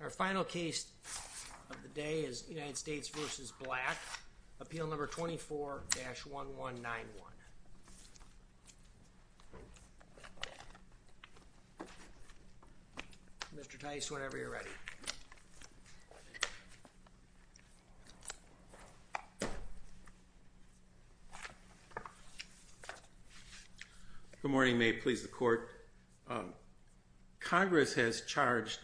Our final case of the day is United States v. Eural Black, Appeal No. 24-1191. Mr. Tice, whenever you're ready. Good morning. May it please the Court. Congress has charged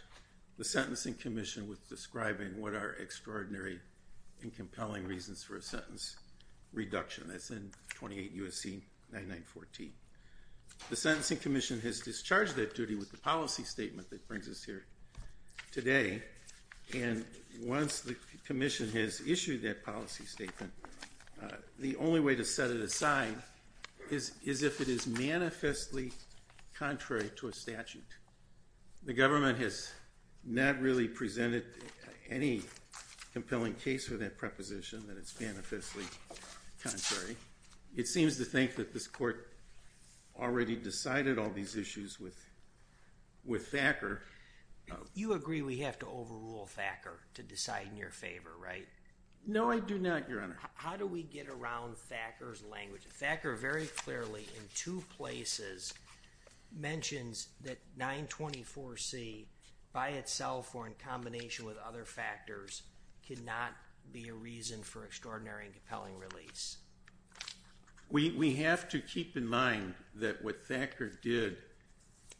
the Sentencing Commission with describing what are extraordinary and compelling reasons for a sentence reduction. That's in 28 U.S.C. 9914. The Sentencing Commission has discharged that duty with the policy statement that brings us here today. And once the Commission has issued that policy statement, the only way to set it aside is if it is manifestly contrary to a statute. The government has not really presented any compelling case for that preposition that it's manifestly contrary. It seems to think that this Court already decided all these issues with Thacker. You agree we have to overrule Thacker to decide in your favor, right? No, I do not, Your Honor. How do we get around Thacker's language? Thacker very clearly in two places mentions that 924C by itself or in combination with other factors cannot be a reason for extraordinary and compelling release. We have to keep in mind that what Thacker did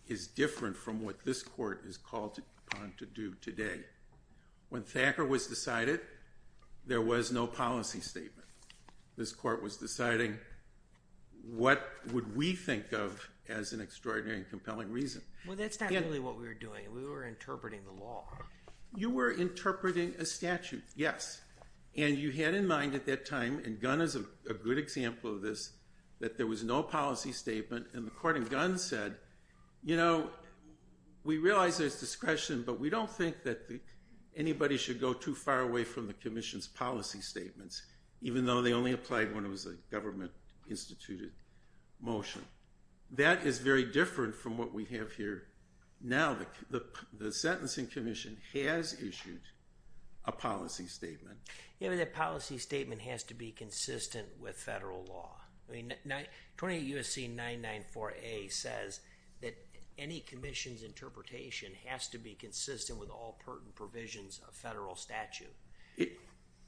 is different from what this Court is called upon to do today. When Thacker was decided, there was no policy statement. This Court was deciding what would we think of as an extraordinary and compelling reason. Well, that's not really what we were doing. We were interpreting the law. You were interpreting a statute, yes. And you had in mind at that time, and Gunn is a good example of this, that there was no policy statement, and the Court in Gunn said, you know, we realize there's discretion, but we don't think that anybody should go too far away from the Commission's policy statements, even though they only applied when it was a government-instituted motion. That is very different from what we have here now. The Sentencing Commission has issued a policy statement. Yeah, but that policy statement has to be consistent with federal law. I mean, 28 U.S.C. 994A says that any Commission's interpretation has to be consistent with all pertinent provisions of federal statute.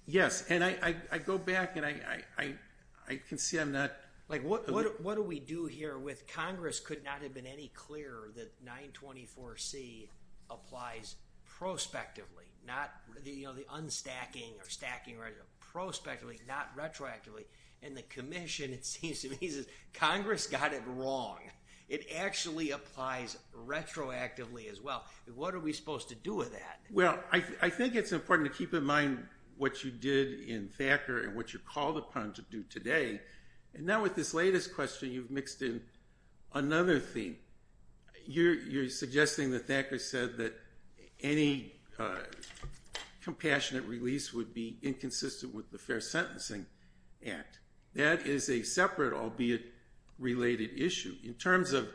Yes, and I go back, and I can see I'm not... Like, what do we do here with Congress could not have been any clearer that 924C applies prospectively, not, you know, the unstacking or stacking, prospectively, not retroactively, and the Commission, it seems to me, says Congress got it wrong. It actually applies retroactively as well. What are we supposed to do with that? Well, I think it's important to keep in mind what you did in Thacker and what you called upon to do today, and now with this latest question, you've mixed in another theme. You're suggesting that Thacker said that any compassionate release would be inconsistent with the Fair Sentencing Act. That is a separate, albeit related, issue. In terms of,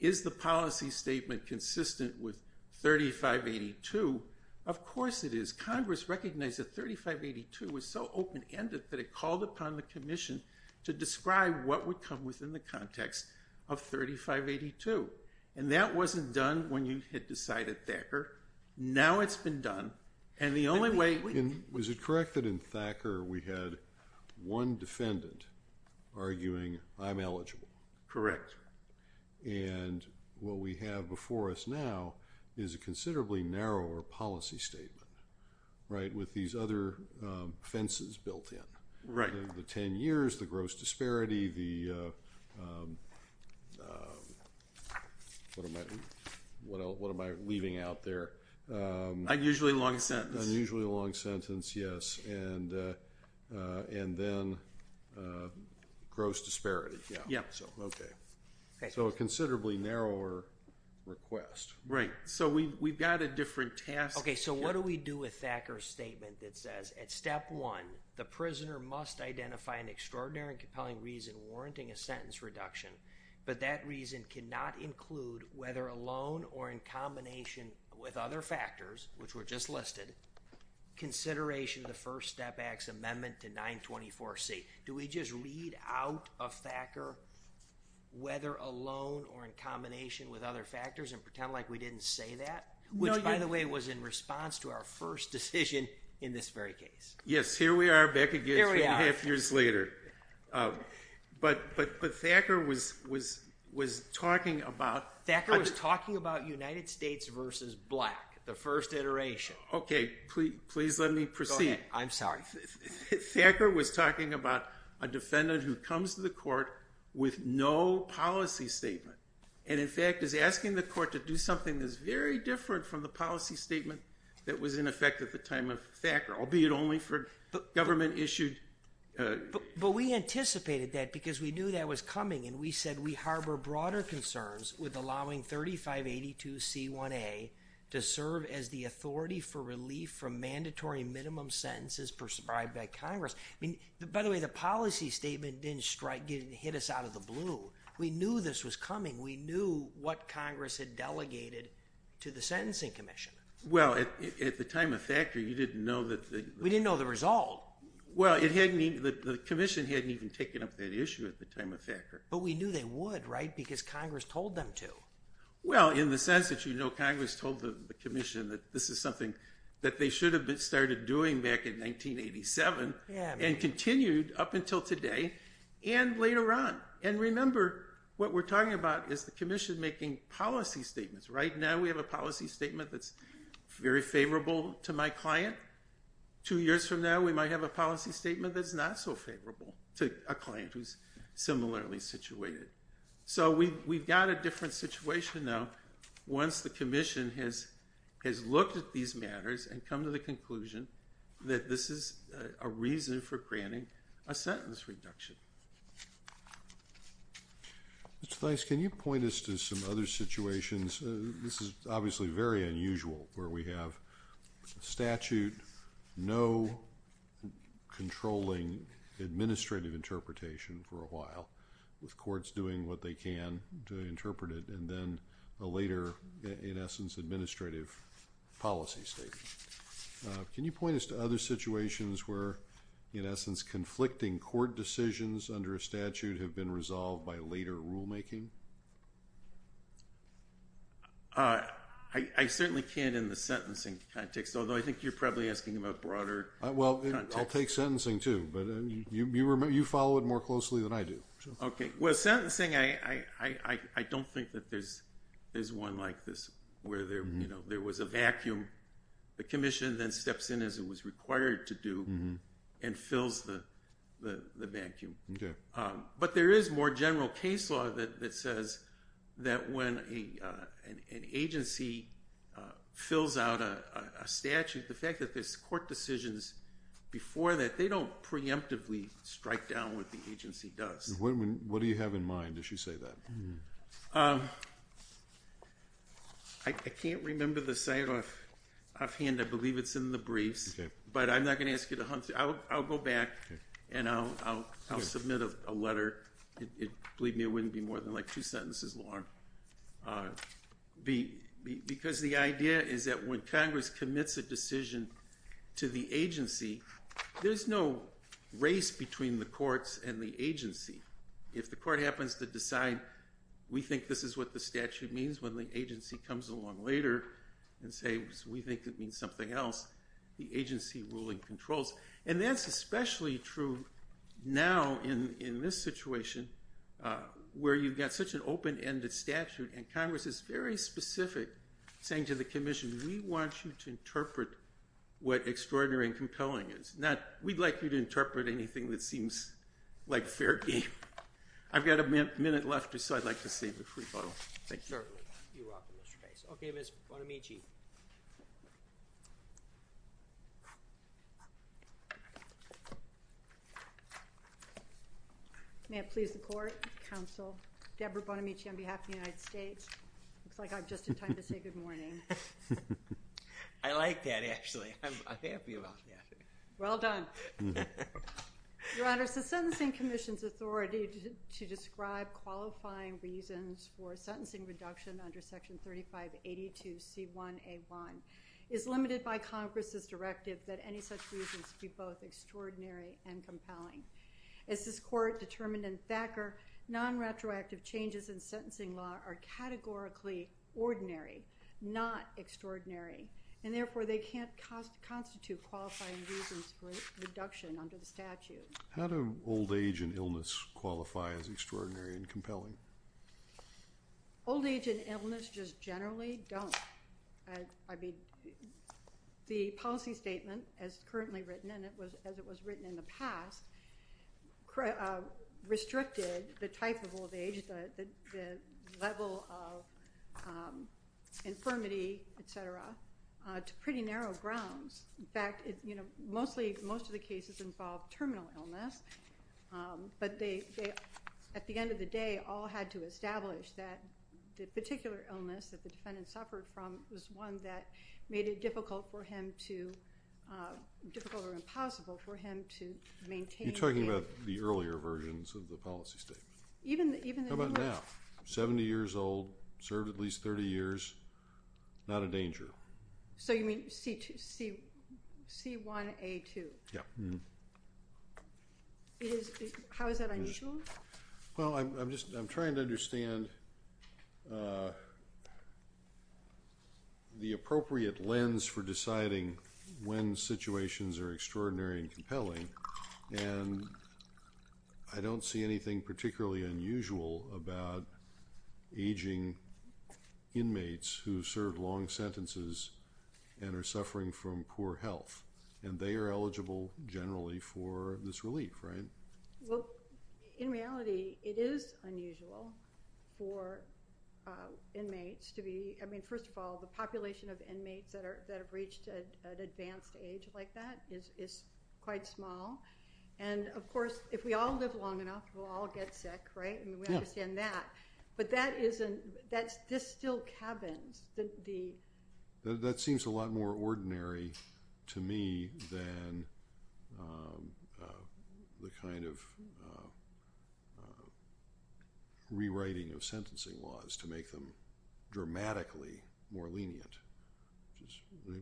is the policy statement consistent with 3582? Of course it is. Congress recognized that 3582 was so open-ended that it called upon the Commission to describe what would come within the context of 3582, and that wasn't done when you had decided Thacker. Now it's been done, and the only way... Was it correct that in Thacker we had one defendant arguing, I'm eligible? Correct. And what we have before us now is a considerably narrower policy statement, right, with these other fences built in. Right. The 10 years, the gross disparity, the... what am I leaving out there? Unusually long sentence. Unusually long sentence, yes, and then gross disparity. Yeah. Okay. So a considerably narrower request. Right. So we've got a different task... Okay, so what do we do with Thacker's statement that says, at step one, the prisoner must identify an extraordinary and compelling reason warranting a sentence reduction, but that reason cannot include, whether alone or in combination with other factors, which were just listed, consideration of the First Step Act's amendment to 924C. Do we just read out of Thacker, whether alone or in combination with other factors, and pretend like we didn't say that? No, you... Which, by the way, was in response to our first decision in this very case. Yes, here we are back again three and a half years later. But Thacker was talking about... Thacker was talking about United States versus black, the first iteration. Okay. Please let me proceed. Go ahead. I'm sorry. Thacker was talking about a defendant who comes to the court with no policy statement, and in fact is asking the court to do something that's very different from the policy statement that was in effect at the time of Thacker, albeit only for government-issued... But we anticipated that because we knew that was coming, and we said we harbor broader concerns with allowing 3582C1A to serve as the authority for relief from mandatory minimum sentences prescribed by Congress. I mean, by the way, the policy statement didn't strike, didn't hit us out of the blue. We knew this was coming. We knew what Congress had delegated to the sentencing commission. Well, at the time of Thacker, you didn't know that the... We didn't know the result. Well, it hadn't even... The commission hadn't even taken up that issue at the time of Thacker. But we knew they would, right? Because Congress told them to. Well, in the sense that you know Congress told the commission that this is something that they should have started doing back in 1987 and continued up until today and later on. And remember, what we're talking about is the commission making policy statements. Right now, we have a policy statement that's very favorable to my client. Two years from now, we might have a policy statement that's not so favorable to a client who's similarly situated. So we've got a different situation now once the commission has looked at these matters and come to the conclusion that this is a reason for granting a sentence reduction. Mr. Thise, can you point us to some other situations? This is obviously very unusual where we have statute, no controlling administrative interpretation for a while with courts doing what they can to interpret it and then a later, in essence, administrative policy statement. Can you point us to other situations where, in essence, conflicting court decisions under a statute have been resolved by later rulemaking? I certainly can't in the sentencing context, although I think you're probably asking about broader context. Well, I'll take sentencing too, but you follow it more closely than I do. Well, sentencing, I don't think that there's one like this where there was a vacuum. The commission then steps in as it was required to do and fills the vacuum. But there is more general case law that says that when an agency fills out a statute, the fact that there's court decisions before that, they don't preemptively strike down what the agency does. What do you have in mind as you say that? I can't remember the sign off hand. I believe it's in the briefs, but I'm not going to ask you to hunt it. I'll go back and I'll submit a letter. Believe me, it wouldn't be more than like two sentences long. Because the idea is that when Congress commits a decision to the agency, there's no race between the courts and the agency. If the court happens to decide, we think this is what the statute means, when the agency comes along later and says, we think it means something else, the agency ruling controls. And that's especially true now in this situation where you've got such an open-ended statute and Congress is very specific, saying to the commission, we want you to interpret what extraordinary and compelling it is, not we'd like you to interpret anything that seems like fair game. I've got a minute left, so I'd like to save a free bottle. Thank you. Certainly. You're welcome, Mr. Case. Okay, Ms. Bonamici. May it please the court, counsel, Debra Bonamici on behalf of the United States, it looks like I'm just in time to say good morning. I like that, actually. I'm happy about that. Well done. Your Honor, it's the Sentencing Commission's authority to describe qualifying reasons for sentencing reduction under Section 3582C1A1 is limited by Congress's directive that any such reasons be both extraordinary and compelling. As this Court determined in Thacker, non-retroactive changes in sentencing law are categorically ordinary, not extraordinary, and therefore they can't constitute qualifying reasons for reduction under the statute. How do old age and illness qualify as extraordinary and compelling? Old age and illness just generally don't. The policy statement, as currently written and as it was written in the past, restricted the type of old age, the level of infirmity, et cetera, to pretty narrow grounds. In fact, you know, mostly, most of the cases involved terminal illness, but they, at the end of the day, all had to establish that the particular illness that the defendant suffered from was one that made it difficult for him to, difficult or impossible for him to maintain. You're talking about the earlier versions of the policy statement? Even the... How about now? Seventy years old, served at least thirty years, not a danger. So you mean C1A2? Yeah. How is that unusual? Well, I'm just, I'm trying to understand the appropriate lens for deciding when situations are extraordinary and compelling, and I don't see anything particularly unusual about aging inmates who served long sentences and are suffering from poor health, and they are eligible generally for this relief, right? Well, in reality, it is unusual for inmates to be, I mean, first of all, the population of inmates that have reached an advanced age like that is quite small, and of course, if we all live long enough, we'll all get sick, right? Yeah. I understand that, but that isn't, that's, this still cabins the... That seems a lot more ordinary to me than the kind of rewriting of sentencing laws to make them dramatically more lenient, which is,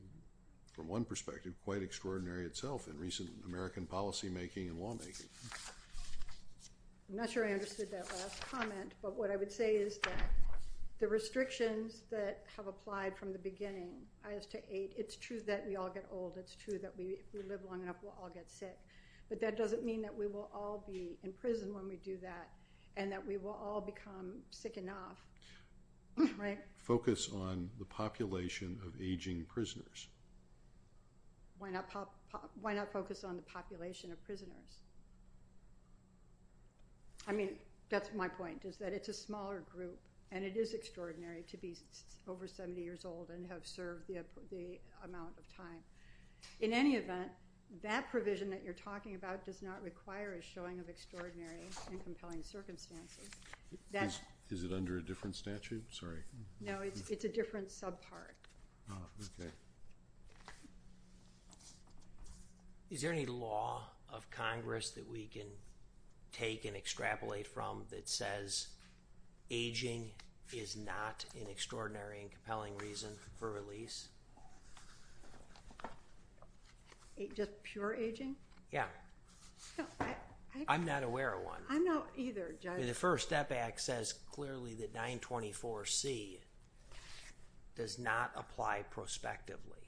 from one perspective, quite extraordinary itself in recent American policymaking and lawmaking. I'm not sure I understood that last comment, but what I would say is that the restrictions that have applied from the beginning as to age, it's true that we all get old. It's true that if we live long enough, we'll all get sick, but that doesn't mean that we will all be in prison when we do that and that we will all become sick enough, right? Focus on the population of aging prisoners. Why not focus on the population of prisoners? I mean, that's my point, is that it's a smaller group, and it is extraordinary to be over 70 years old and have served the amount of time. In any event, that provision that you're talking about does not require a showing of extraordinary and compelling circumstances. Is it under a different statute? Sorry. No, it's a different subpart. Oh, okay. Is there any law of Congress that we can take and extrapolate from that says aging is not an extraordinary and compelling reason for release? Just pure aging? Yeah. No, I... I'm not aware of one. I'm not either, Judge. The First Step Act says clearly that 924C does not apply prospectively.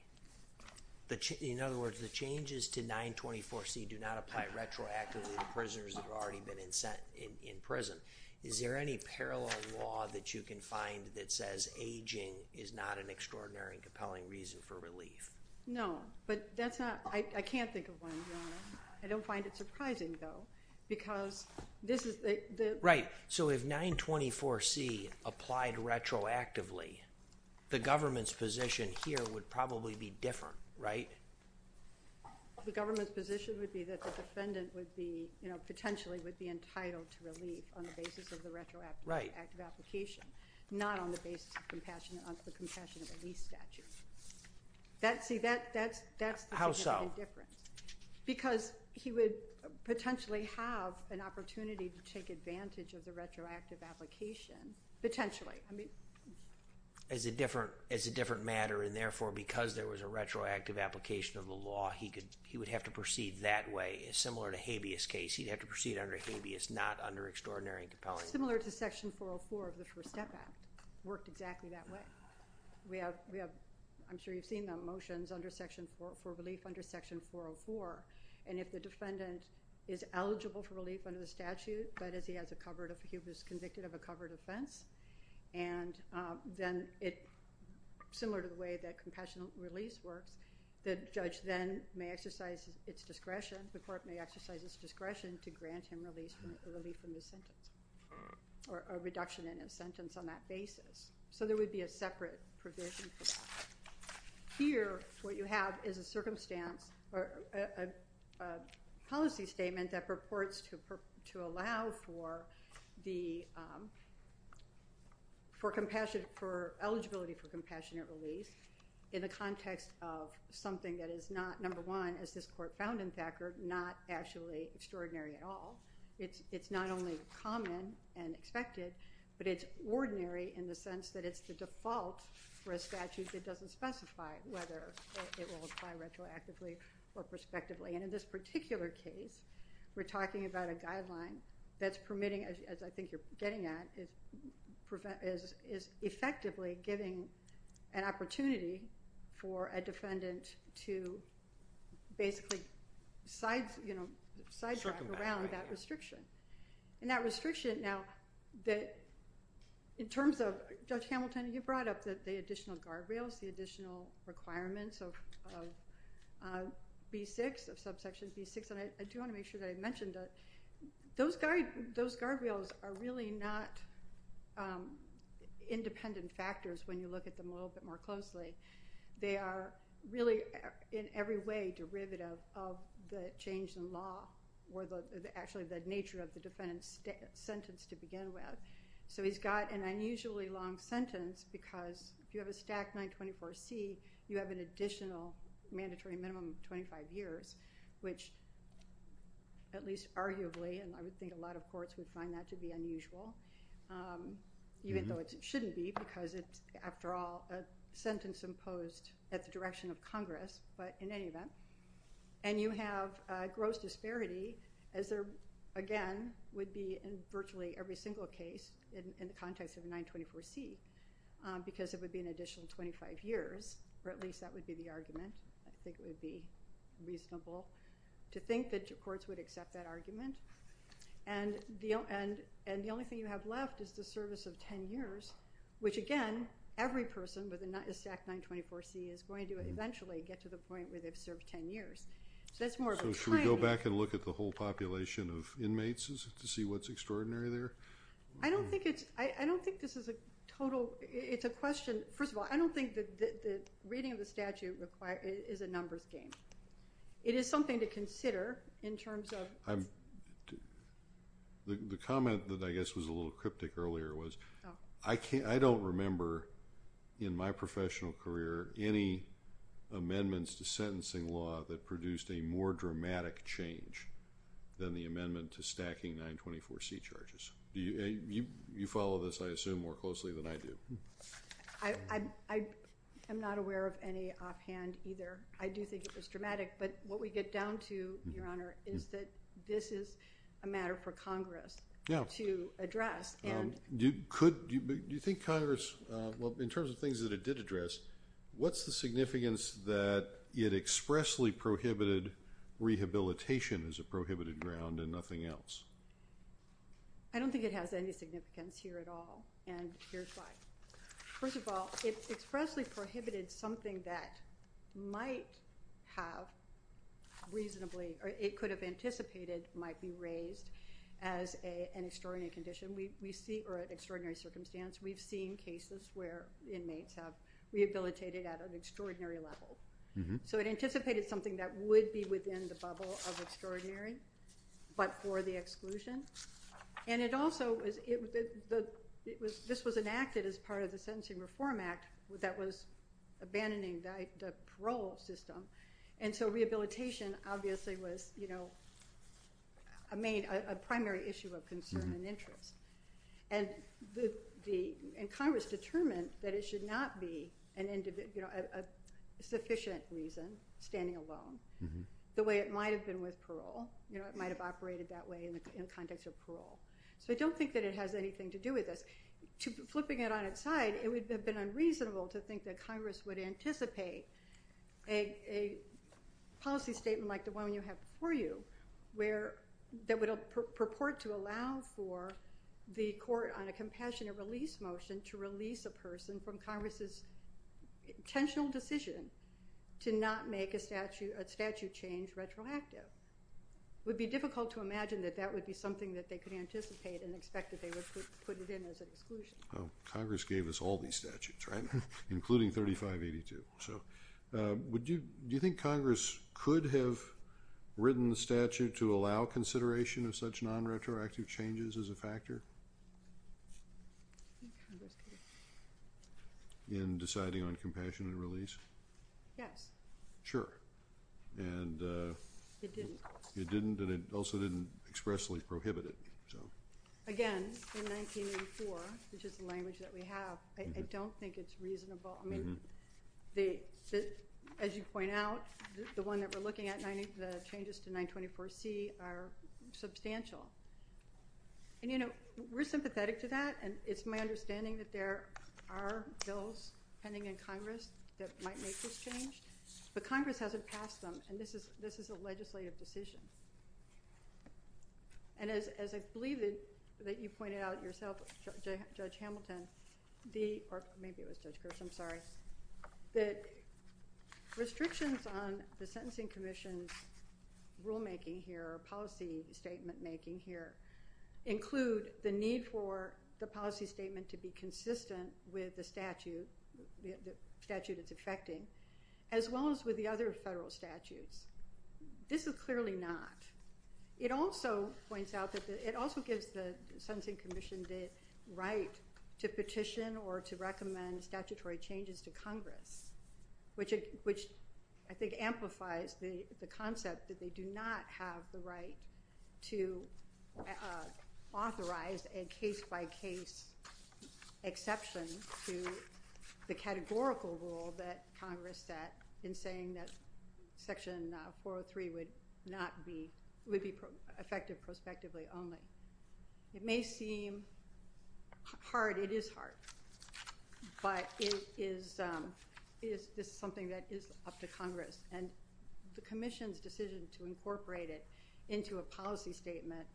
In other words, the changes to 924C do not apply retroactively to prisoners that have already been in prison. Is there any parallel law that you can find that says aging is not an extraordinary and compelling reason for relief? No, but that's not... I can't think of one, Your Honor. I don't find it surprising, though, because this is the... So if 924C applied retroactively, the government's position here would probably be different, right? The government's position would be that the defendant would be, you know, potentially would be entitled to relief on the basis of the retroactive... Right. ...active application, not on the basis of the compassionate release statute. That's... See, that's... How so? ...that would make a difference, because he would potentially have an opportunity to take advantage of the retroactive application, potentially. I mean... As a different matter, and therefore, because there was a retroactive application of the law, he would have to proceed that way, similar to Habeas' case. He'd have to proceed under Habeas, not under extraordinary and compelling. Similar to Section 404 of the First Step Act. Worked exactly that way. We have... I'm sure you've seen the motions for relief under Section 404, and if the defendant is eligible for relief under the statute, that is, he has a covered... He was convicted of a covered offense, and then it... Similar to the way that compassionate release works, the judge then may exercise its discretion, the court may exercise its discretion to grant him relief from his sentence, or a reduction in his sentence on that basis. So there would be a separate provision for that. Here, what you have is a circumstance, or a policy statement that purports to allow for the... For compassion... For eligibility for compassionate release, in the context of something that is not, number one, as this court found in Thacker, not actually extraordinary at all. It's not only common and expected, but it's ordinary in the sense that it's the default for a statute that doesn't specify whether it will apply retroactively or prospectively. And in this particular case, we're talking about a guideline that's permitting, as I think you're getting at, is effectively giving an opportunity for a defendant to basically side-drive around that restriction. And that restriction, now, in terms of... Judge Hamilton, you brought up the additional guardrails, the additional requirements of B6, of subsection B6, and I do want to make sure that I mentioned that those guardrails are really not independent factors when you look at them a little bit more closely. They are really, in every way, derivative of the change in law, or actually the nature of the defendant's sentence to begin with. So he's got an unusually long sentence, because if you have a stack 924C, you have an additional mandatory minimum of 25 years, which, at least arguably, and I would think a lot of courts would find that to be unusual, even though it shouldn't be, because it's, after all, a sentence imposed at the direction of Congress, but in any event. And you have gross disparity, as there, again, would be in virtually every single case in the context of 924C, because it would be an additional 25 years, or at least that would be the argument. I think it would be reasonable to think that your courts would accept that argument. And the only thing you have left is the service of 10 years, which, again, every person with a stack 924C is going to eventually get to the point where they've served 10 years. So that's more of a trend. So should we go back and look at the whole population of inmates to see what's extraordinary there? I don't think it's, I don't think this is a total, it's a question, first of all, I don't think that the reading of the statute is a numbers game. It is something to consider in terms of... The comment that I guess was a little cryptic earlier was, I don't remember in my professional career any amendments to sentencing law that produced a more dramatic change than the amendment to stacking 924C charges. You follow this, I assume, more closely than I do. I'm not aware of any offhand either. I do think it was dramatic. But what we get down to, Your Honor, is that this is a matter for Congress to address. Do you think Congress, well, in terms of things that it did address, what's the significance that it expressly prohibited rehabilitation as a prohibited ground and nothing else? I don't think it has any significance here at all. And here's why. First of all, it expressly prohibited something that might have reasonably, or it could have anticipated might be raised as an extraordinary condition. We see, or an extraordinary circumstance. We've seen cases where inmates have rehabilitated at an extraordinary level. So it anticipated something that would be within the bubble of extraordinary, but for the exclusion. And it also, this was enacted as part of the Sentencing Reform Act that was abandoning the parole system. And so rehabilitation obviously was a primary issue of concern and interest. And Congress determined that it should not be a sufficient reason, standing alone, the way it might have been with parole. It might have operated that way in the context of parole. So I don't think that it has anything to do with this. Flipping it on its side, it would have been unreasonable to think that Congress would anticipate a policy statement like the one you have before you that would purport to allow for the court on a compassionate release motion to release a person from Congress's intentional decision to not make a statute change retroactive. It would be difficult to imagine that that would be something that they could anticipate and expect that they would put it in as an exclusion. Congress gave us all these statutes, right? Including 3582. Do you think Congress could have written the statute to allow consideration of such non-retroactive changes as a factor? I think Congress could have. In deciding on compassion and release? Yes. Sure. It didn't. It didn't and it also didn't expressly prohibit it. Again, in 1984, which is the language that we have, I don't think it's reasonable. As you point out, the one that we're looking at, the changes to 924C are substantial. We're sympathetic to that and it's my understanding that there are bills pending in Congress that might make this change. But Congress hasn't passed them and this is a legislative decision. As I believe that you pointed out yourself, Judge Hamilton, or maybe it was Judge Gross, I'm sorry, that restrictions on the Sentencing Commission's rulemaking here or policy statement making here include the need for the policy statement to be consistent with the statute it's affecting as well as with the other federal statutes. This is clearly not. It also points out that it also gives the Sentencing Commission the right to petition or to recommend statutory changes to Congress, which I think amplifies the concept that they do not have the right to authorize a case-by-case exception to the categorical rule that Congress set in saying that Section 403 would be effective prospectively only. It may seem hard. It is hard. But this is something that is up to Congress. And the Commission's decision to incorporate it into a policy statement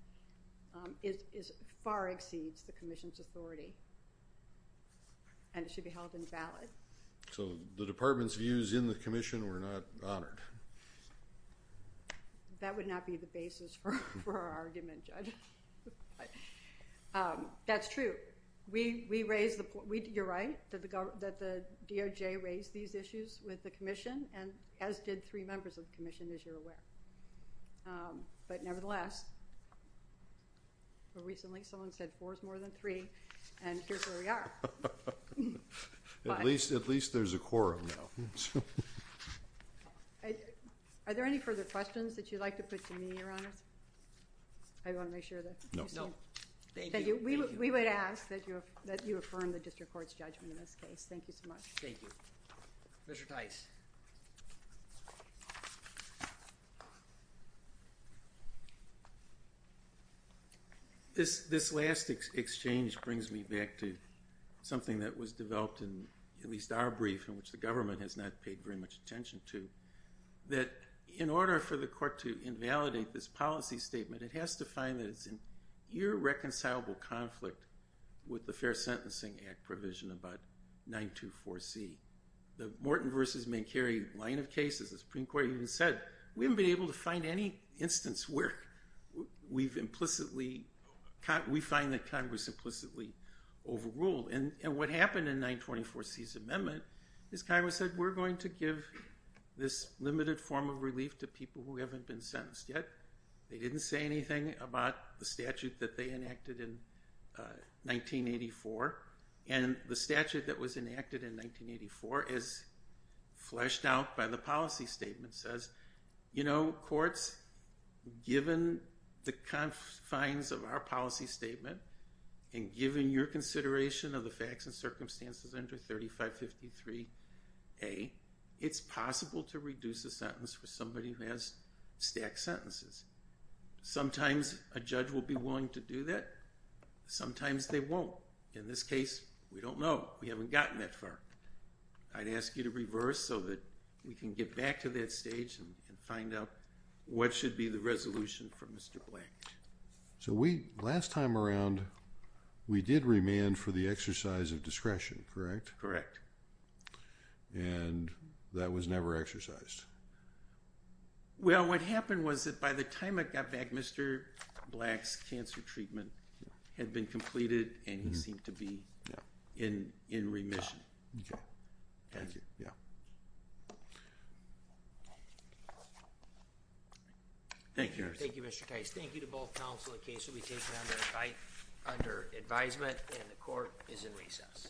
far exceeds the Commission's authority. And it should be held invalid. So the Department's views in the Commission were not honored. That would not be the basis for our argument, Judge. That's true. You're right that the DOJ raised these issues with the Commission. And as did three members of the Commission, as you're aware. But nevertheless, recently someone said four is more than three. And here's where we are. At least there's a quorum now. Are there any further questions that you'd like to put to me, Your Honors? I want to make sure that you see them. Thank you. We would ask that you affirm the District Court's judgment in this case. Thank you so much. Thank you. Commissioner Tice. This last exchange brings me back to something that was developed in at least our brief, in which the government has not paid very much attention to, that in order for the court to invalidate this policy statement, it has to find that it's an irreconcilable conflict with the Fair Sentencing Act provision about 924C. The Morton v. Mankiewicz line of cases, the Supreme Court even said, we haven't been able to find any instance where we find that Congress implicitly overruled. And what happened in 924C's amendment is Congress said, we're going to give this limited form of relief to people who haven't been sentenced yet. They didn't say anything about the statute that they enacted in 1984. And the statute that was enacted in 1984 is fleshed out by the policy statement. It says, you know, courts, given the confines of our policy statement, and given your consideration of the facts and circumstances under 3553A, it's possible to reduce a sentence for somebody who has stacked sentences. Sometimes a judge will be willing to do that. Sometimes they won't. In this case, we don't know. We haven't gotten that far. I'd ask you to reverse so that we can get back to that stage and find out what should be the resolution for Mr. Blank. So we, last time around, we did remand for the exercise of discretion, correct? Correct. And that was never exercised? Well, what happened was that by the time it got back, Mr. Blank's cancer treatment had been completed and he seemed to be in remission. Okay. Thank you. Thank you. Thank you, Mr. Tice. Thank you to both counsel. The case will be taken under advisement and the court is in recess.